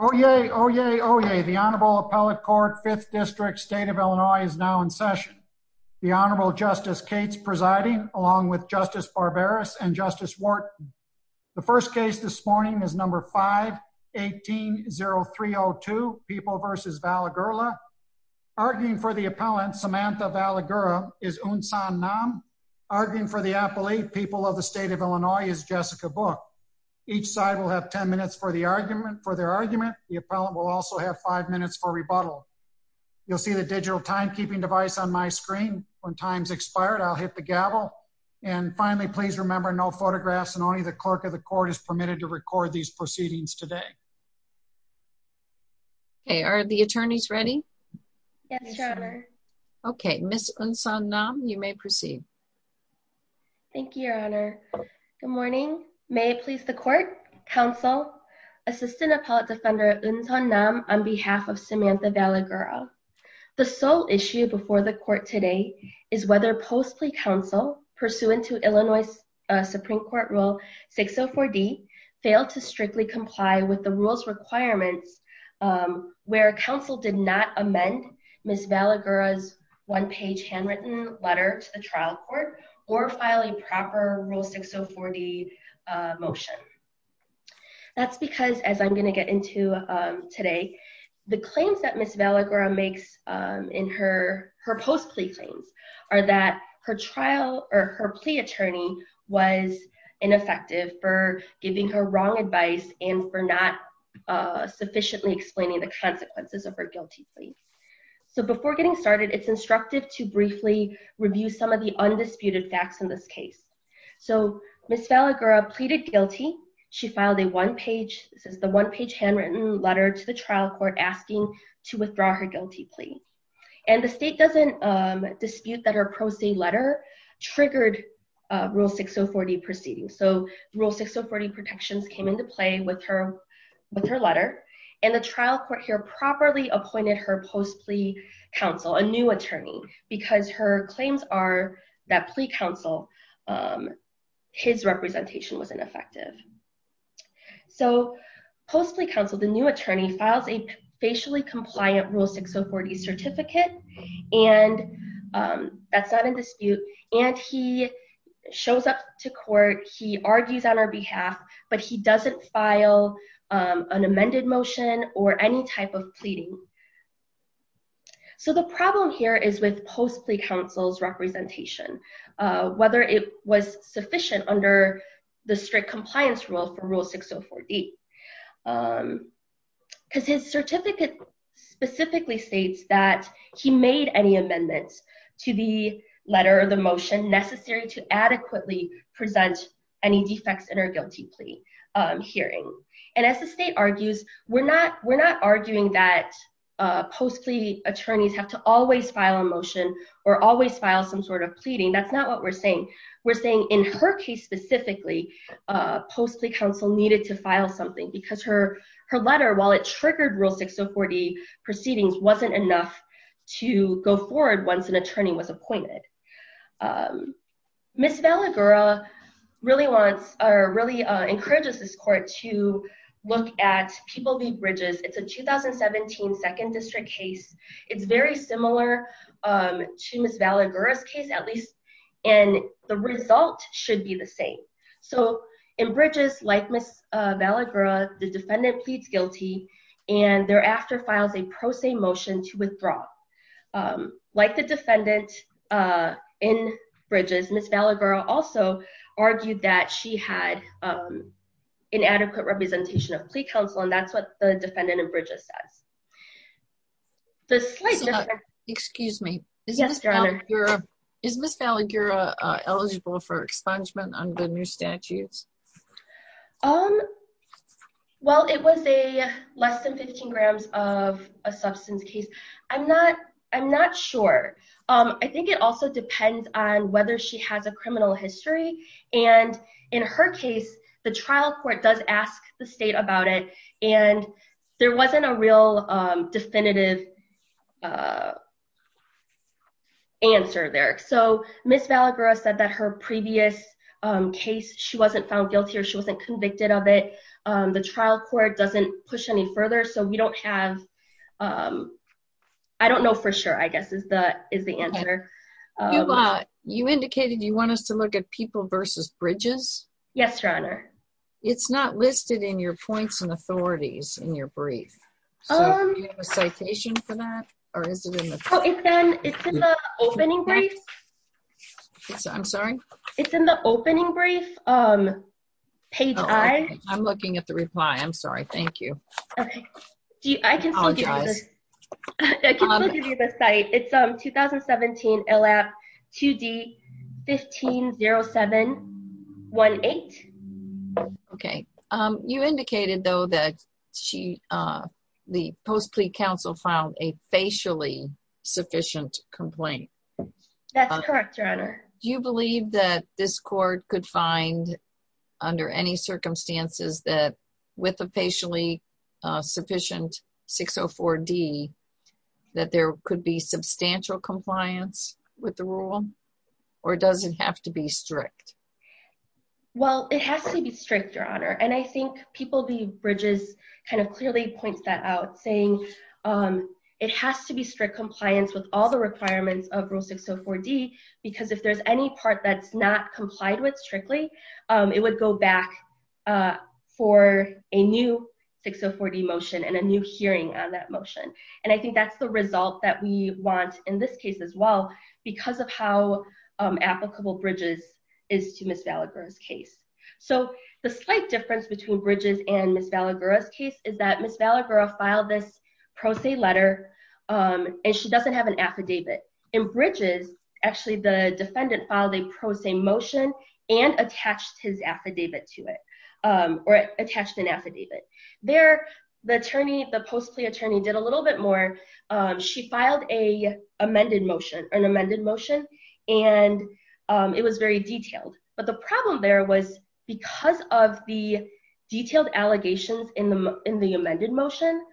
Oh, yay. Oh, yay. Oh, yay. The Honorable Appellate Court, 5th District, State of Illinois, is now in session. The Honorable Justice Cates presiding, along with Justice Barberis and Justice Wharton. The first case this morning is number 5-180302, People v. Valigura. Arguing for the appellant, Samantha Valigura, is Unsan Nam. Arguing for the appellate, People of the State of Illinois, is Jessica Book. Each side will have 10 minutes for their argument. The appellant will also have 5 minutes for rebuttal. You'll see the digital timekeeping device on my screen. When time's expired, I'll hit the gavel. And finally, please remember, no photographs and only the clerk of the court is permitted to record these proceedings today. Okay, are the attorneys ready? Yes, Your Honor. Okay, Ms. Unsan Nam, you may proceed. Thank you, Your Honor. Good morning. May it please the court, counsel, Assistant Appellate Defender Unsan Nam, on behalf of Samantha Valigura. The sole issue before the court today is whether post-plea counsel, pursuant to Illinois Supreme Court Rule 604D, failed to strictly comply with the rule's requirements where counsel did not amend Ms. Valigura's one-page handwritten letter to the trial court or file a proper Rule 604D motion. That's because, as I'm going to get into today, the claims that Ms. Valigura makes in her post-plea claims are that her trial or her plea attorney was ineffective for giving her wrong advice and for not sufficiently explaining the consequences of her guilty plea. So before getting started, it's instructive briefly review some of the undisputed facts in this case. So Ms. Valigura pleaded guilty. She filed a one-page, this is the one-page handwritten letter to the trial court asking to withdraw her guilty plea. And the state doesn't dispute that her pro se letter triggered Rule 604D proceedings. So Rule 604D protections came into play with her letter, and the trial court here properly appointed her post-plea counsel, a new attorney, because her claims are that plea counsel, his representation was ineffective. So post-plea counsel, the new attorney files a facially compliant Rule 604D certificate, and that's not in dispute. And he shows up to court, he argues on our behalf, but he doesn't file an amended motion or any type of pleading. So the problem here is with post-plea counsel's representation, whether it was sufficient under the strict compliance rule for Rule 604D. Because his certificate specifically states that he made any amendments to the letter or the motion necessary to adequately present any defects in her guilty plea hearing. And as the state argues, we're not arguing that post-plea attorneys have to always file a motion or always file some sort of pleading. That's not what we're saying. We're saying in her case specifically, post-plea counsel needed to file something because her letter, while it triggered Rule 604D proceedings, wasn't enough to go forward once an attorney was appointed. Ms. Vallagura really wants or really encourages this court to look at People v. Bridges. It's a 2017 Second District case. It's very similar to Ms. Vallagura's and the result should be the same. So in Bridges, like Ms. Vallagura, the defendant pleads guilty and thereafter files a pro se motion to withdraw. Like the defendant in Bridges, Ms. Vallagura also argued that she had inadequate representation of plea counsel and that's what the defendant in Bridges says. Excuse me. Is Ms. Vallagura eligible for expungement under the new statutes? Well, it was a less than 15 grams of a substance case. I'm not sure. I think it also depends on whether she has a criminal history. And in her case, the trial court does ask the state about it and there wasn't a real definitive answer there. So Ms. Vallagura said that her previous case, she wasn't found guilty or she wasn't convicted of it. The trial court doesn't push any further, so we don't have... I don't know for sure, I guess, is the answer. You indicated you want us to look at People v. Bridges? Yes, Your Honor. It's not listed in your points and authorities in your brief. Do you have a citation for that or is it in the brief? It's in the opening brief. I'm sorry? It's in the opening brief, page I. I'm looking at the reply. I'm sorry. Thank you. Okay. I can still give you the... I apologize. I can still give you the site. It's 2017 ILAP 2D 150718. Okay. You indicated though that the post-plea counsel filed a facially sufficient complaint. That's correct, Your Honor. Do you believe that this court could find under any circumstances that with a facially sufficient 604D that there could be substantial compliance with the rule or does it have to be strict? Well, it has to be strict, Your Honor, and I think People v. Bridges kind of clearly points that out, saying it has to be strict compliance with all the requirements of Rule 604D because if there's any part that's not complied with strictly, it would go back for a new 604D motion and a new hearing on that motion, and I think that's the result that we want in this case as well because of how applicable Bridges is to Ms. Valagura's case. So the slight difference between Bridges and Ms. Valagura's case is that Ms. Valagura filed this pro se letter and she doesn't have an affidavit. In Bridges, actually, the defendant filed a pro se motion and attached his affidavit to it or attached an affidavit. There, the post plea attorney did a little bit more. She filed an amended motion and it was very detailed, but the problem there was because of the detailed allegations in the amended motion,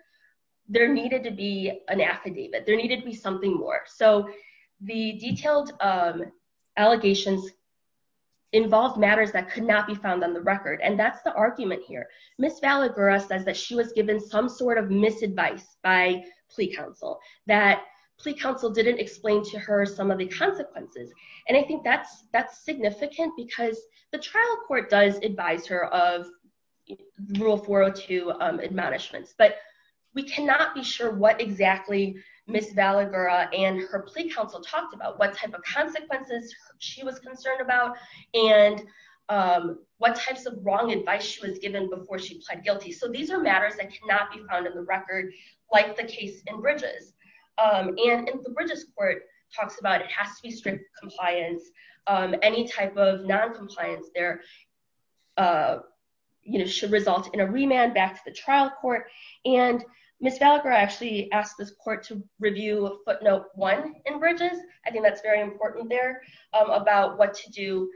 there needed to be an affidavit. There needed to be something more. So the detailed allegations involved matters that could not be found on the record, and that's the argument here. Ms. Valagura says that she was given some sort of misadvice by plea counsel, that plea counsel didn't explain to her some of the consequences, and I think that's significant because the trial court does advise her of Rule 402 admonishments, but we cannot be sure what exactly Ms. Valagura and her plea counsel talked about, what type of consequences she was concerned about, and what types of wrong advice she was given before she pled guilty. So these are matters that cannot be found in the record, like the case in Bridges, and the Bridges court talks about it has to be strict compliance. Any type of non-compliance there should result in a remand back to the trial court, and Ms. Valagura actually asked this court to review footnote one in Bridges. I think that's very important there about what to do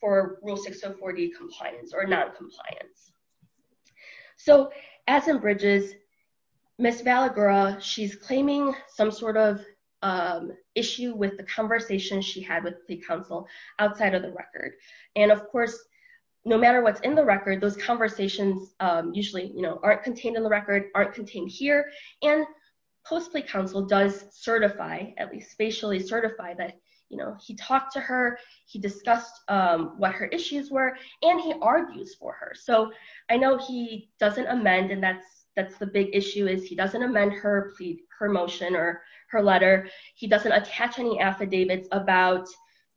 for Rule 604D compliance or non-compliance. So as in Bridges, Ms. Valagura, she's claiming some sort of issue with the conversation she had with plea counsel outside of the record, and of course, no matter what's in the record, those conversations usually aren't contained in the record, aren't contained here, and post-plea counsel does certify, at least spatially certify, that he talked to her, he discussed what her issues were, and he argues for her. So I know he doesn't amend, and that's the big issue, is he doesn't amend her motion or her letter. He doesn't attach any affidavits about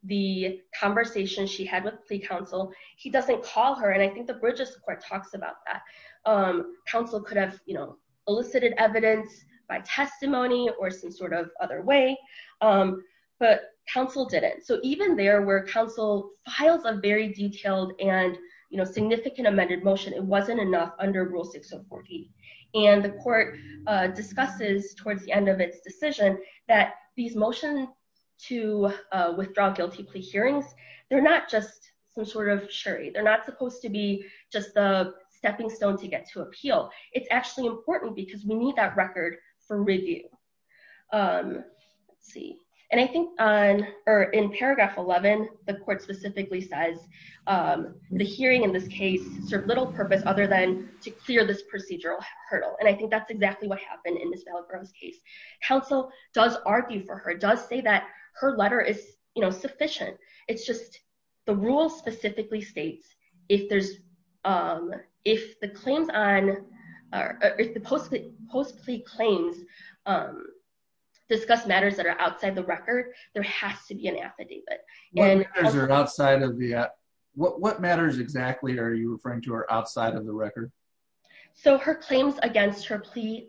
the conversation she had with plea counsel. He doesn't call her, and I think Bridges court talks about that. Counsel could have, you know, elicited evidence by testimony or some sort of other way, but counsel didn't. So even there where counsel files a very detailed and, you know, significant amended motion, it wasn't enough under Rule 604D, and the court discusses towards the end of its decision that these motions to withdraw guilty plea hearings, they're not just some sort of sherry. They're not supposed to be just the stepping stone to get to appeal. It's actually important because we need that record for review. Let's see, and I think on, or in paragraph 11, the court specifically says the hearing in this case served little purpose other than to clear this procedural hurdle, and I think that's exactly what happened in Ms. Vallejo's case. Counsel does argue for her, does say that her letter is, you know, sufficient. It's just the rule specifically states if there's, if the claims on, or if the post plea claims discuss matters that are outside the record, there has to be an affidavit. What matters are outside of the, what matters exactly are you referring to are outside of the record? So her claims against her plea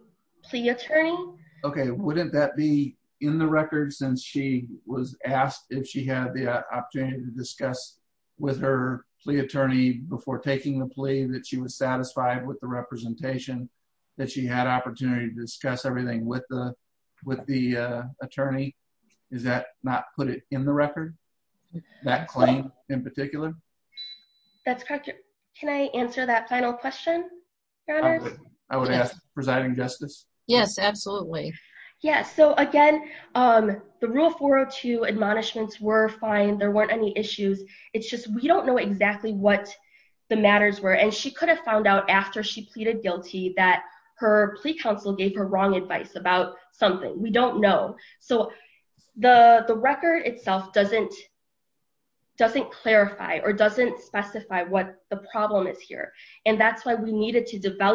attorney. Okay, wouldn't that be in the record since she was asked if she had the opportunity to discuss with her plea attorney before taking the plea that she was satisfied with the representation, that she had opportunity to discuss everything with the attorney? Does that not put it in the record, that claim in particular? That's correct. Can I answer that final question, Your Honor? I would ask, Presiding Justice? Yes, absolutely. Yeah. So again, the rule 402 admonishments were fine. There weren't any issues. It's just, we don't know exactly what the matters were. And she could have found out after she pleaded guilty that her plea counsel gave her wrong advice about something. We don't know. So the record itself doesn't clarify or doesn't specify what the problem is here. And that's why we needed to I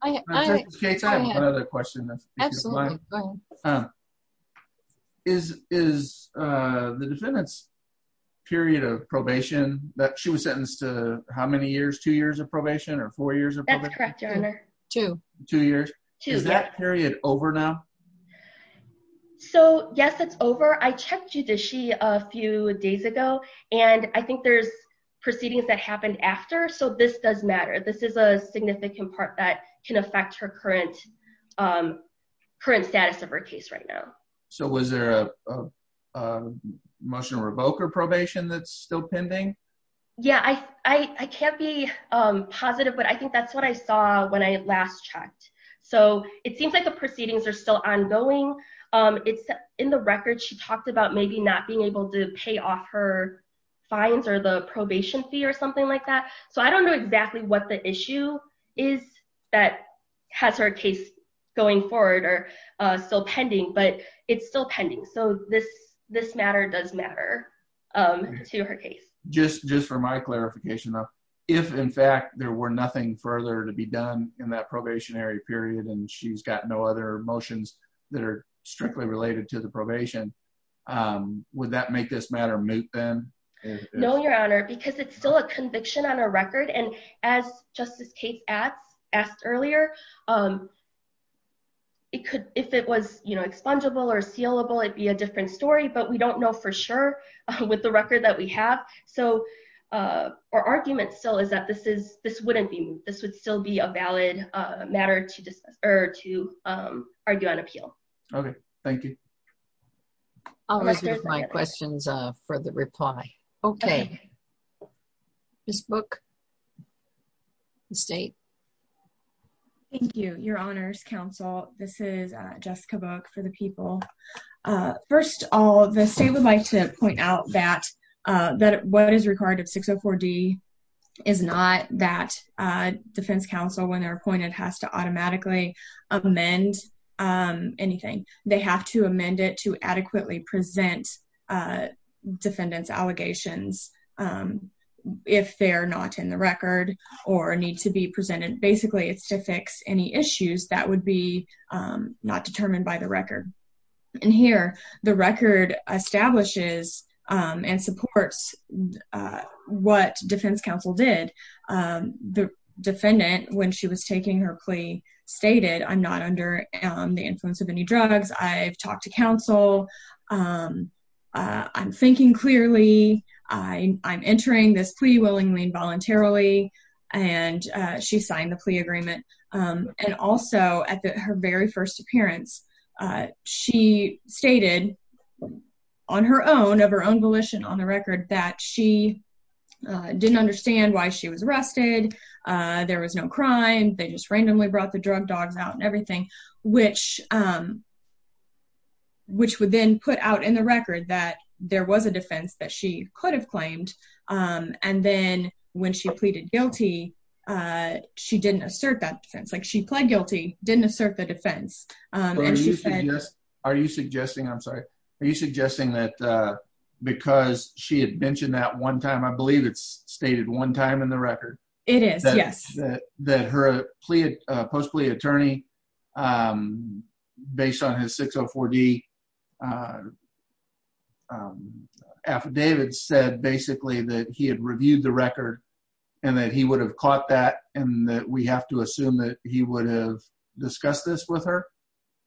have another question. Is the defendant's period of probation that she was sentenced to how many years, two years of probation or four years of probation? That's correct, Your Honor. Two. Two years. Is that period over now? So yes, it's over. I checked judicially a few days ago, and I think there's proceedings that affect her current status of her case right now. So was there a motion to revoke her probation that's still pending? Yeah. I can't be positive, but I think that's what I saw when I last checked. So it seems like the proceedings are still ongoing. In the record, she talked about maybe not being able to pay off her fines or the probation fee or something like that. So I don't know exactly what the issue is that has her case going forward or still pending, but it's still pending. So this matter does matter to her case. Just for my clarification, if, in fact, there were nothing further to be done in that probationary period and she's got no other motions that are strictly related to the probation, would that make this matter moot then? No, Your Honor, because it's still a conviction on her record. And as Justice Cates asked earlier, if it was expungeable or sealable, it'd be a different story, but we don't know for sure with the record that we have. So our argument still is that this wouldn't be moot. This would still be a valid matter to argue on appeal. Okay. Thank you. I'll leave my questions for the reply. Okay. Ms. Book, the state. Thank you, Your Honors Counsel. This is Jessica Book for the people. First of all, the state would like to point out that what is required of 604D is not that defense counsel, when they're adequately present defendants' allegations if they're not in the record or need to be presented. Basically, it's to fix any issues that would be not determined by the record. And here, the record establishes and supports what defense counsel did. The defendant, when she was taking her plea, stated, I'm not under the influence of any drugs. I've talked to counsel. I'm thinking clearly. I'm entering this plea willingly and voluntarily. And she signed the plea agreement. And also, at her very first appearance, she stated on her own, of her own volition on the record, that she didn't understand why she was arrested. There was no crime. They just randomly brought the drug dogs out and everything, which would then put out in the record that there was a defense that she could have claimed. And then when she pleaded guilty, she didn't assert that defense. She pled guilty, didn't assert the defense. Are you suggesting that because she had mentioned that one time, I believe it's post-plea attorney, based on his 604D affidavit, said basically that he had reviewed the record and that he would have caught that and that we have to assume that he would have discussed this with her?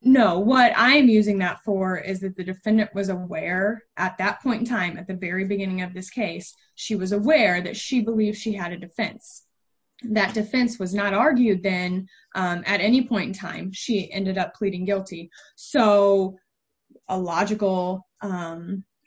No. What I'm using that for is that the defendant was aware at that point in time, at the very beginning of this case, she was aware that she believed she had a defense. That defense was not argued then at any point in time. She ended up pleading guilty. So, a logical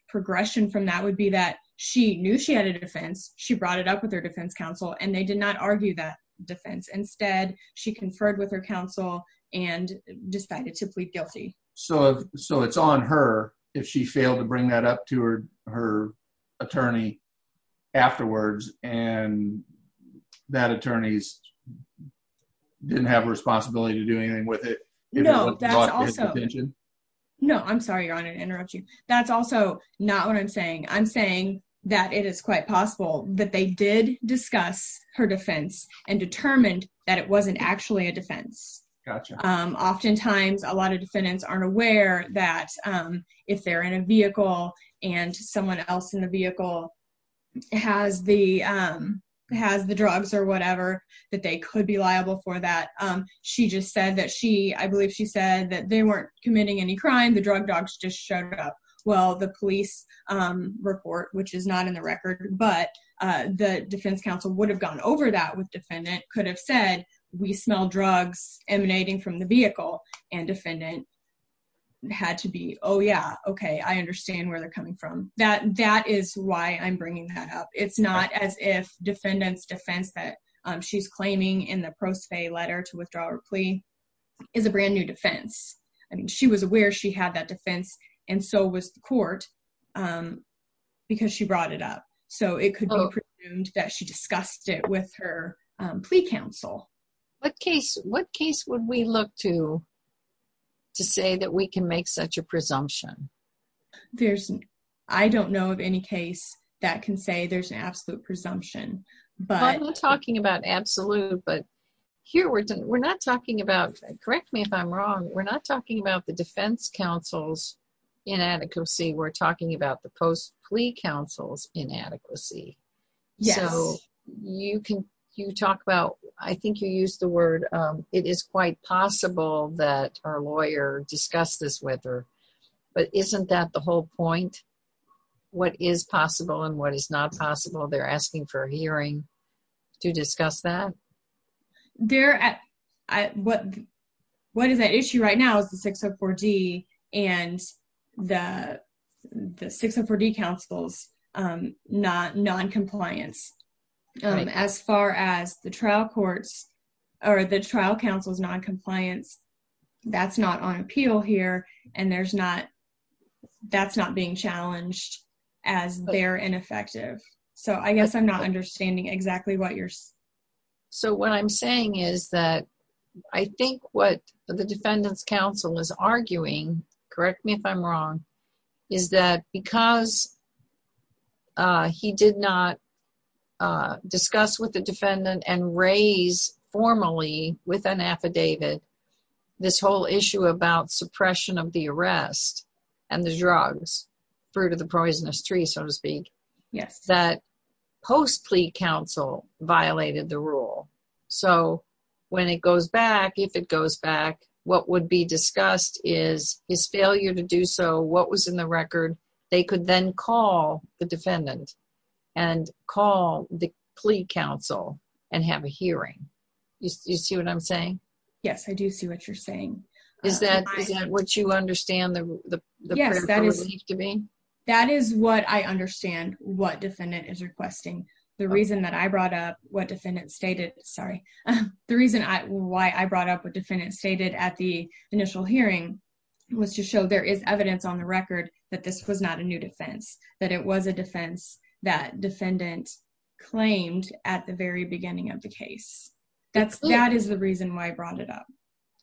progression from that would be that she knew she had a defense. She brought it up with her defense counsel and they did not argue that defense. Instead, she conferred with her counsel and decided to plead guilty. So, it's on her if she failed to bring that up to her attorney afterwards and that attorney didn't have a responsibility to do anything with it? No. I'm sorry, Your Honor, to interrupt you. That's also not what I'm saying. I'm saying that it is quite possible that they did discuss her defense and determined that it wasn't actually a defense. Oftentimes, a lot of defendants aren't aware that if they're in a vehicle and someone else in the vehicle has the drugs or whatever, that they could be liable for that. She just said that she, I believe she said that they weren't committing any crime. The drug dogs just showed up. Well, the police report, which is not in the record, but the defense counsel would have gone over that with defendant, could have said, we smell drugs emanating from the vehicle and defendant had to be, oh yeah, okay, I understand where they're coming from. That is why I'm bringing that up. It's not as if defendant's defense that she's claiming in the pro se letter to withdraw her plea is a brand new defense. I mean, she was aware she had that defense and so was the court because she brought it up. So, it could be presumed that she discussed it with her plea counsel. What case would we look to say that we can make such a presumption? There's, I don't know of any case that can say there's an absolute presumption. I'm not talking about absolute, but here we're not talking about, correct me if I'm wrong, we're not talking about the defense counsel's inadequacy. We're talking about the post plea counsel's inadequacy. So, you talk about, I think you used the word, it is quite possible that our lawyer discussed this with her, but isn't that the whole point? What is possible and what is not possible? They're asking for a hearing to discuss that. What is at issue right now is the 604D counsel's non-compliance. As far as the trial courts or the trial counsel's non-compliance, that's not on appeal here and that's not being challenged as they're ineffective. So, I guess I'm not understanding exactly what you're saying. So, what I'm saying is that I think what the defendant's counsel is arguing, correct me if I'm wrong, is that because he did not discuss with the defendant and raise formally with an affidavit this whole issue about suppression of the arrest and the drugs, fruit of the poisonous tree, so to speak, that post plea counsel violated the rule. So, when it goes back, if it goes back, what would be discussed is his failure to do so, what was in the record. They could then call the defendant and call the plea counsel and have a hearing. Do you see what I'm saying? Yes, I do see what you're saying. Is that what you understand? Yes, that is what I understand what defendant is requesting. The reason that I brought up what defendant stated, sorry, the reason why I brought up what defendant stated at the initial hearing was to show there is evidence on the record that this was not a new defense, that it was a defense that defendant claimed at the very beginning of the case. That is the reason why I brought it up.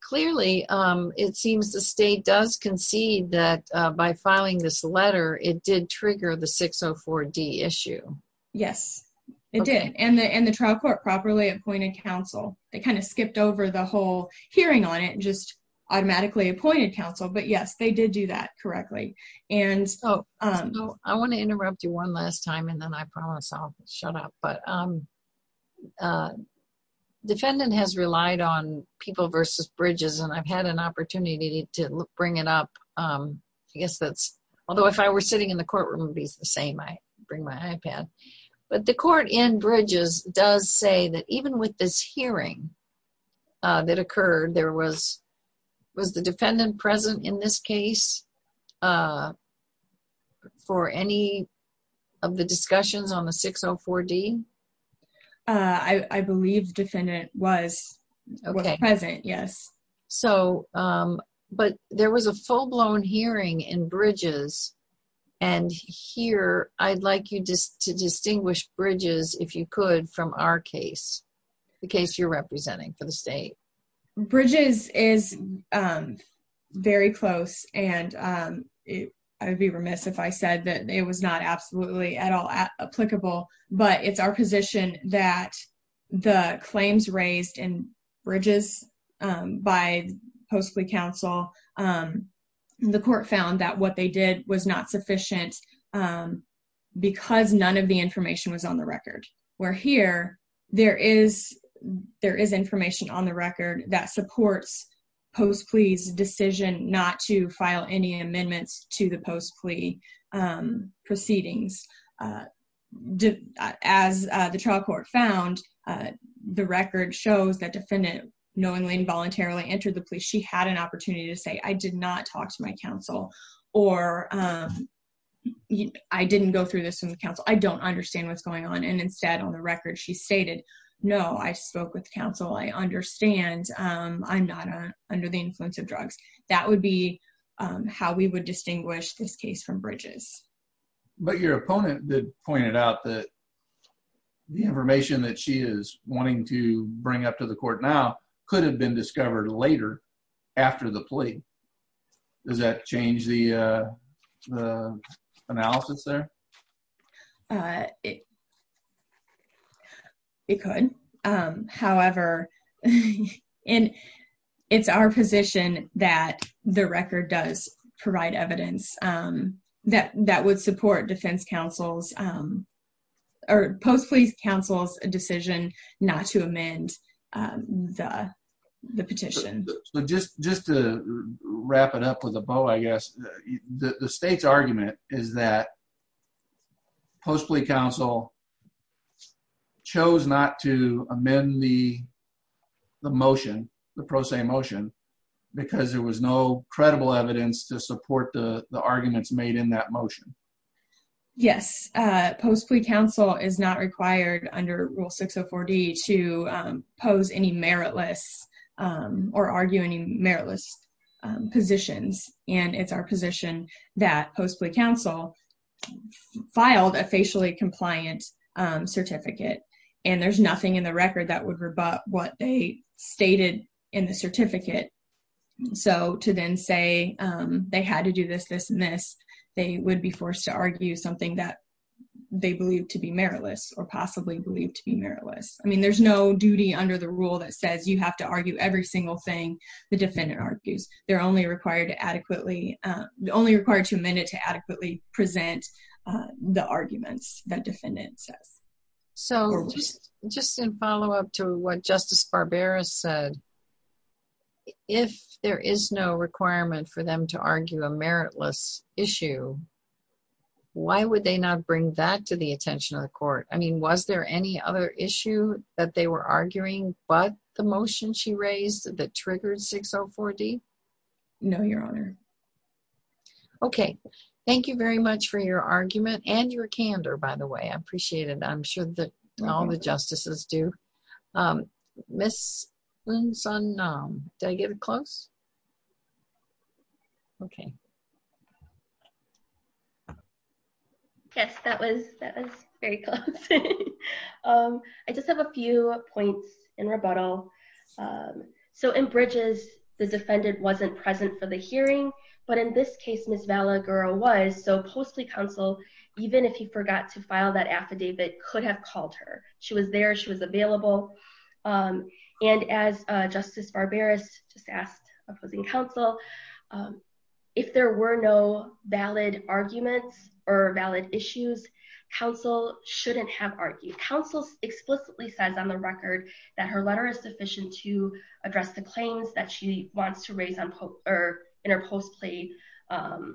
Clearly, it seems the state does concede that by filing this letter, it did trigger the 604D issue. Yes, it did. The trial court properly appointed counsel. They skipped over the whole hearing on it and just automatically appointed counsel, but yes, they did do that correctly. I want to interrupt you one last time and then I promise I'll shut up. Defendant has relied on people versus bridges and I've had an opportunity to bring it up. I guess that's, although if I were sitting in the courtroom, it'd be the same. I bring my iPad, but the court in bridges does say that even with this hearing that occurred, there was, was the defendant present in this case for any of the discussions on the 604D? I believe defendant was present. Yes. So, but there was a full-blown hearing in bridges and here I'd like you just to distinguish bridges, if you could, from our case, the case you're representing for the state. Bridges is very close and I'd be remiss if I said that it was not absolutely at all applicable, but it's our raised in bridges by post-plea counsel. The court found that what they did was not sufficient because none of the information was on the record. Where here, there is information on the record that supports post-plea's decision not to file any amendments to the post-plea proceedings. As the trial court found, the record shows that defendant knowingly and voluntarily entered the police. She had an opportunity to say, I did not talk to my counsel or I didn't go through this in the council. I don't understand what's going on. And instead on the record, she stated, no, I spoke with counsel. I understand. I'm not under the influence of drugs. That would be how we would distinguish this case from bridges. But your opponent pointed out that the information that she is wanting to bring up to the court now could have been discovered later after the plea. Does that change the analysis there? It could. However, it's our position that the record does provide evidence that would support defense counsel's or post-plea counsel's decision not to amend the petition. Just to wrap it up with a bow, I guess, the state's argument is that post-plea counsel chose not to amend the motion, the pro se motion, because there was no made in that motion. Yes. Post-plea counsel is not required under Rule 604D to pose any meritless or argue any meritless positions. And it's our position that post-plea counsel filed a facially compliant certificate. And there's nothing in the record that would rebut what they stated in the would be forced to argue something that they believed to be meritless or possibly believed to be meritless. I mean, there's no duty under the rule that says you have to argue every single thing the defendant argues. They're only required to adequately—only required to amend it to adequately present the arguments that defendant says. So just in follow-up to what Justice Barbera said, if there is no requirement for them to argue a meritless issue, why would they not bring that to the attention of the court? I mean, was there any other issue that they were arguing but the motion she raised that triggered 604D? No, Your Honor. Okay. Thank you very much for your argument and your candor, by the way. I appreciate it. I'm sorry. Did I get it close? Okay. Yes, that was very close. I just have a few points in rebuttal. So in Bridges, the defendant wasn't present for the hearing. But in this case, Ms. Valagura was. So post-plea counsel, even if he forgot to file that affidavit, could have called her. She was there. She was available. And as Justice Barbera just asked opposing counsel, if there were no valid arguments or valid issues, counsel shouldn't have argued. Counsel explicitly says on the record that her letter is sufficient to address the claims that she wants to raise in her post-plea—her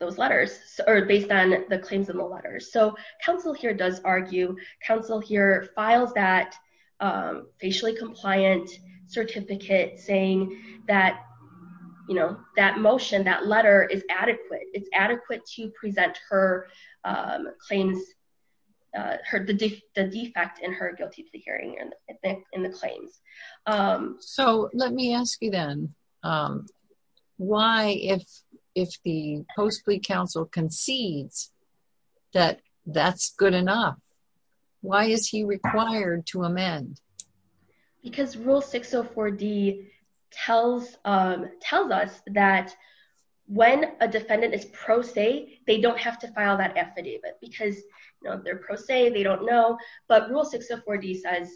those letters—or based on the claims in the letters. So counsel here does argue. Counsel here files that facially compliant certificate saying that, you know, that motion, that letter is adequate. It's adequate to present her claims—the defect in her guilty plea hearing in the claims. So let me ask you then, why, if the post-plea counsel concedes that that's good enough, why is he required to amend? Because Rule 604D tells us that when a defendant is pro se, they don't have to file that affidavit because, you know, they don't know. But Rule 604D says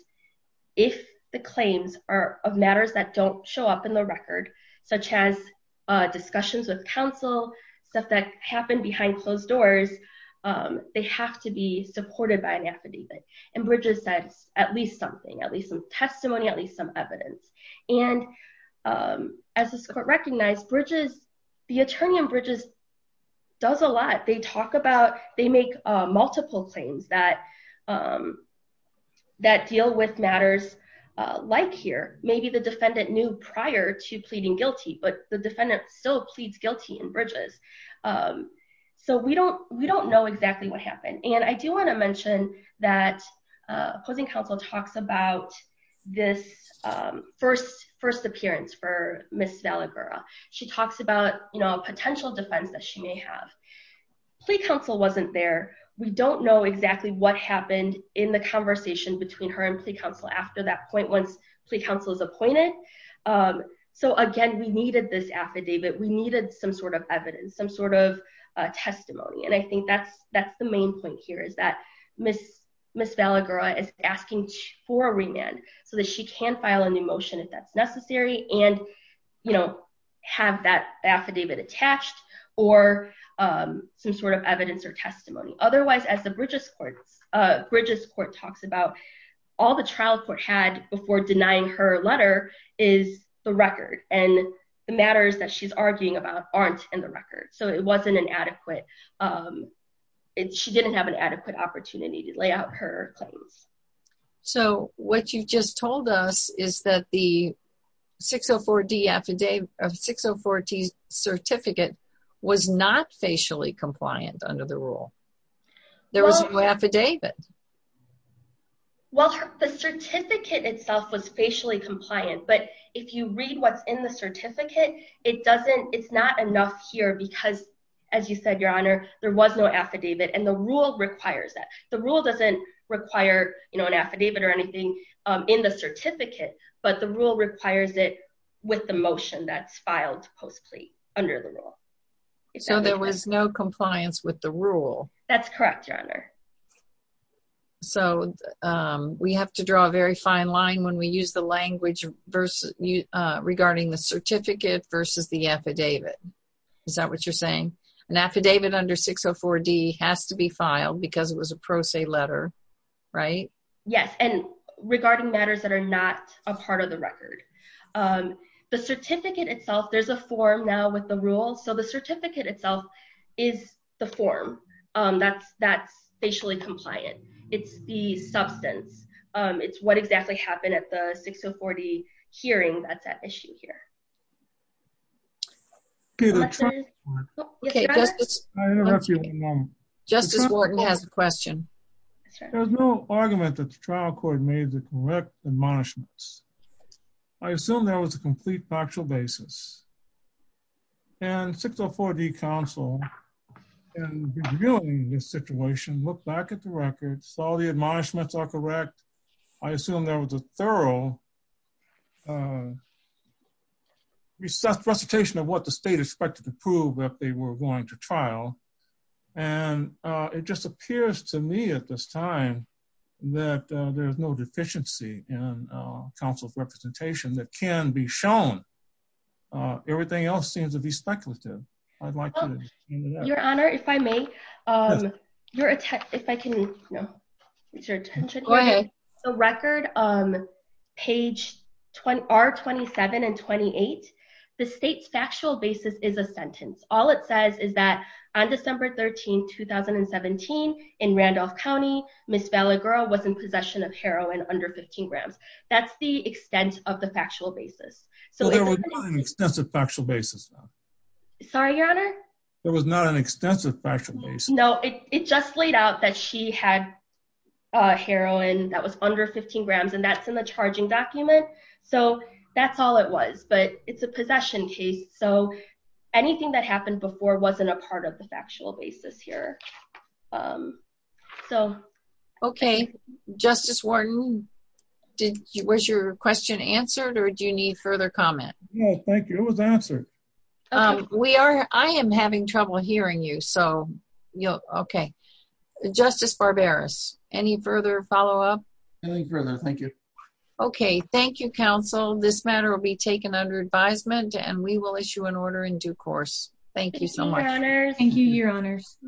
if the claims are of matters that don't show up in the record, such as discussions with counsel, stuff that happened behind closed doors, they have to be supported by an affidavit. And Bridges says at least something, at least some testimony, at least some evidence. And as this Court recognized, Bridges, the attorney on Bridges does a lot. They talk about—they make multiple claims that deal with matters like here. Maybe the defendant knew prior to pleading guilty, but the defendant still pleads guilty in Bridges. So we don't know exactly what happened. And I do want to mention that opposing counsel talks about this first appearance for Ms. Vallagura. She talks about, you know, a potential defense that she may have. Plea counsel wasn't there. We don't know exactly what happened in the conversation between her and plea counsel after that point, once plea counsel is appointed. So again, we needed this affidavit. We needed some sort of evidence, some sort of testimony. And I think that's the main point here is that Ms. Vallagura is asking for remand so that she can file a new motion if that's necessary and, you know, have that affidavit attached or some sort of evidence or testimony. Otherwise, as the Bridges Court talks about, all the trial court had before denying her letter is the record. And the matters that she's arguing about aren't in the record. So it wasn't adequate. She didn't have an adequate opportunity to lay out her claims. So what you just told us is that the 604D certificate was not facially compliant under the rule. There was no affidavit. Well, the certificate itself was facially compliant. But if you read what's in the certificate, it's not enough here because, as you said, Your Honor, there was no affidavit. And the rule requires that. The rule doesn't require, you know, an affidavit or anything in the certificate. But the rule requires it with the motion that's filed post plea under the rule. So there was no compliance with the rule. That's correct, Your Honor. So we have to draw a very fine line when we use the language regarding the certificate versus the affidavit. Is that what you're saying? An affidavit under 604D has to be filed because it was a pro se letter, right? Yes. And regarding matters that are not a part of the record. The certificate itself, there's a form now with the rule. So the certificate itself is the form. That's facially compliant. It's the substance. It's what exactly happened at the 604D hearing that's at issue here. Justice Wharton has a question. There's no argument that the trial court made the correct admonishments. I assume there was a complete factual basis. And 604D counsel in reviewing this situation looked back at the records, saw the admonishments are correct. I assume there was a thorough recitation of what the state expected to prove if they were going to trial. And it just appears to me at this time that there's no deficiency in counsel's representation that can be shown. Everything else seems to be speculative. I'd like to know. Your Honor, if I may, if I can get your attention. Go ahead. The record, page R27 and 28, the state's factual basis is a sentence. All it says is that on December 13, 2017, in Randolph County, Ms. Vallegro was in possession of heroin under 15 grams. That's the extent of the factual basis. There was not an extensive factual basis. Sorry, Your Honor? There was not an extensive factual basis. No, it just laid out that she had heroin that was under 15 grams and that's in the charging document. So that's all it was, but it's a possession case. So anything that happened before wasn't a part of the factual basis here. Okay, Justice Wharton, was your question answered or do you need further comment? No, thank you. It was answered. I am having trouble hearing you. Justice Barberis, any further follow-up? Nothing further. Thank you. Okay. Thank you, counsel. This matter will be taken under advisement and we will issue an indictment. Thank you, Your Honors.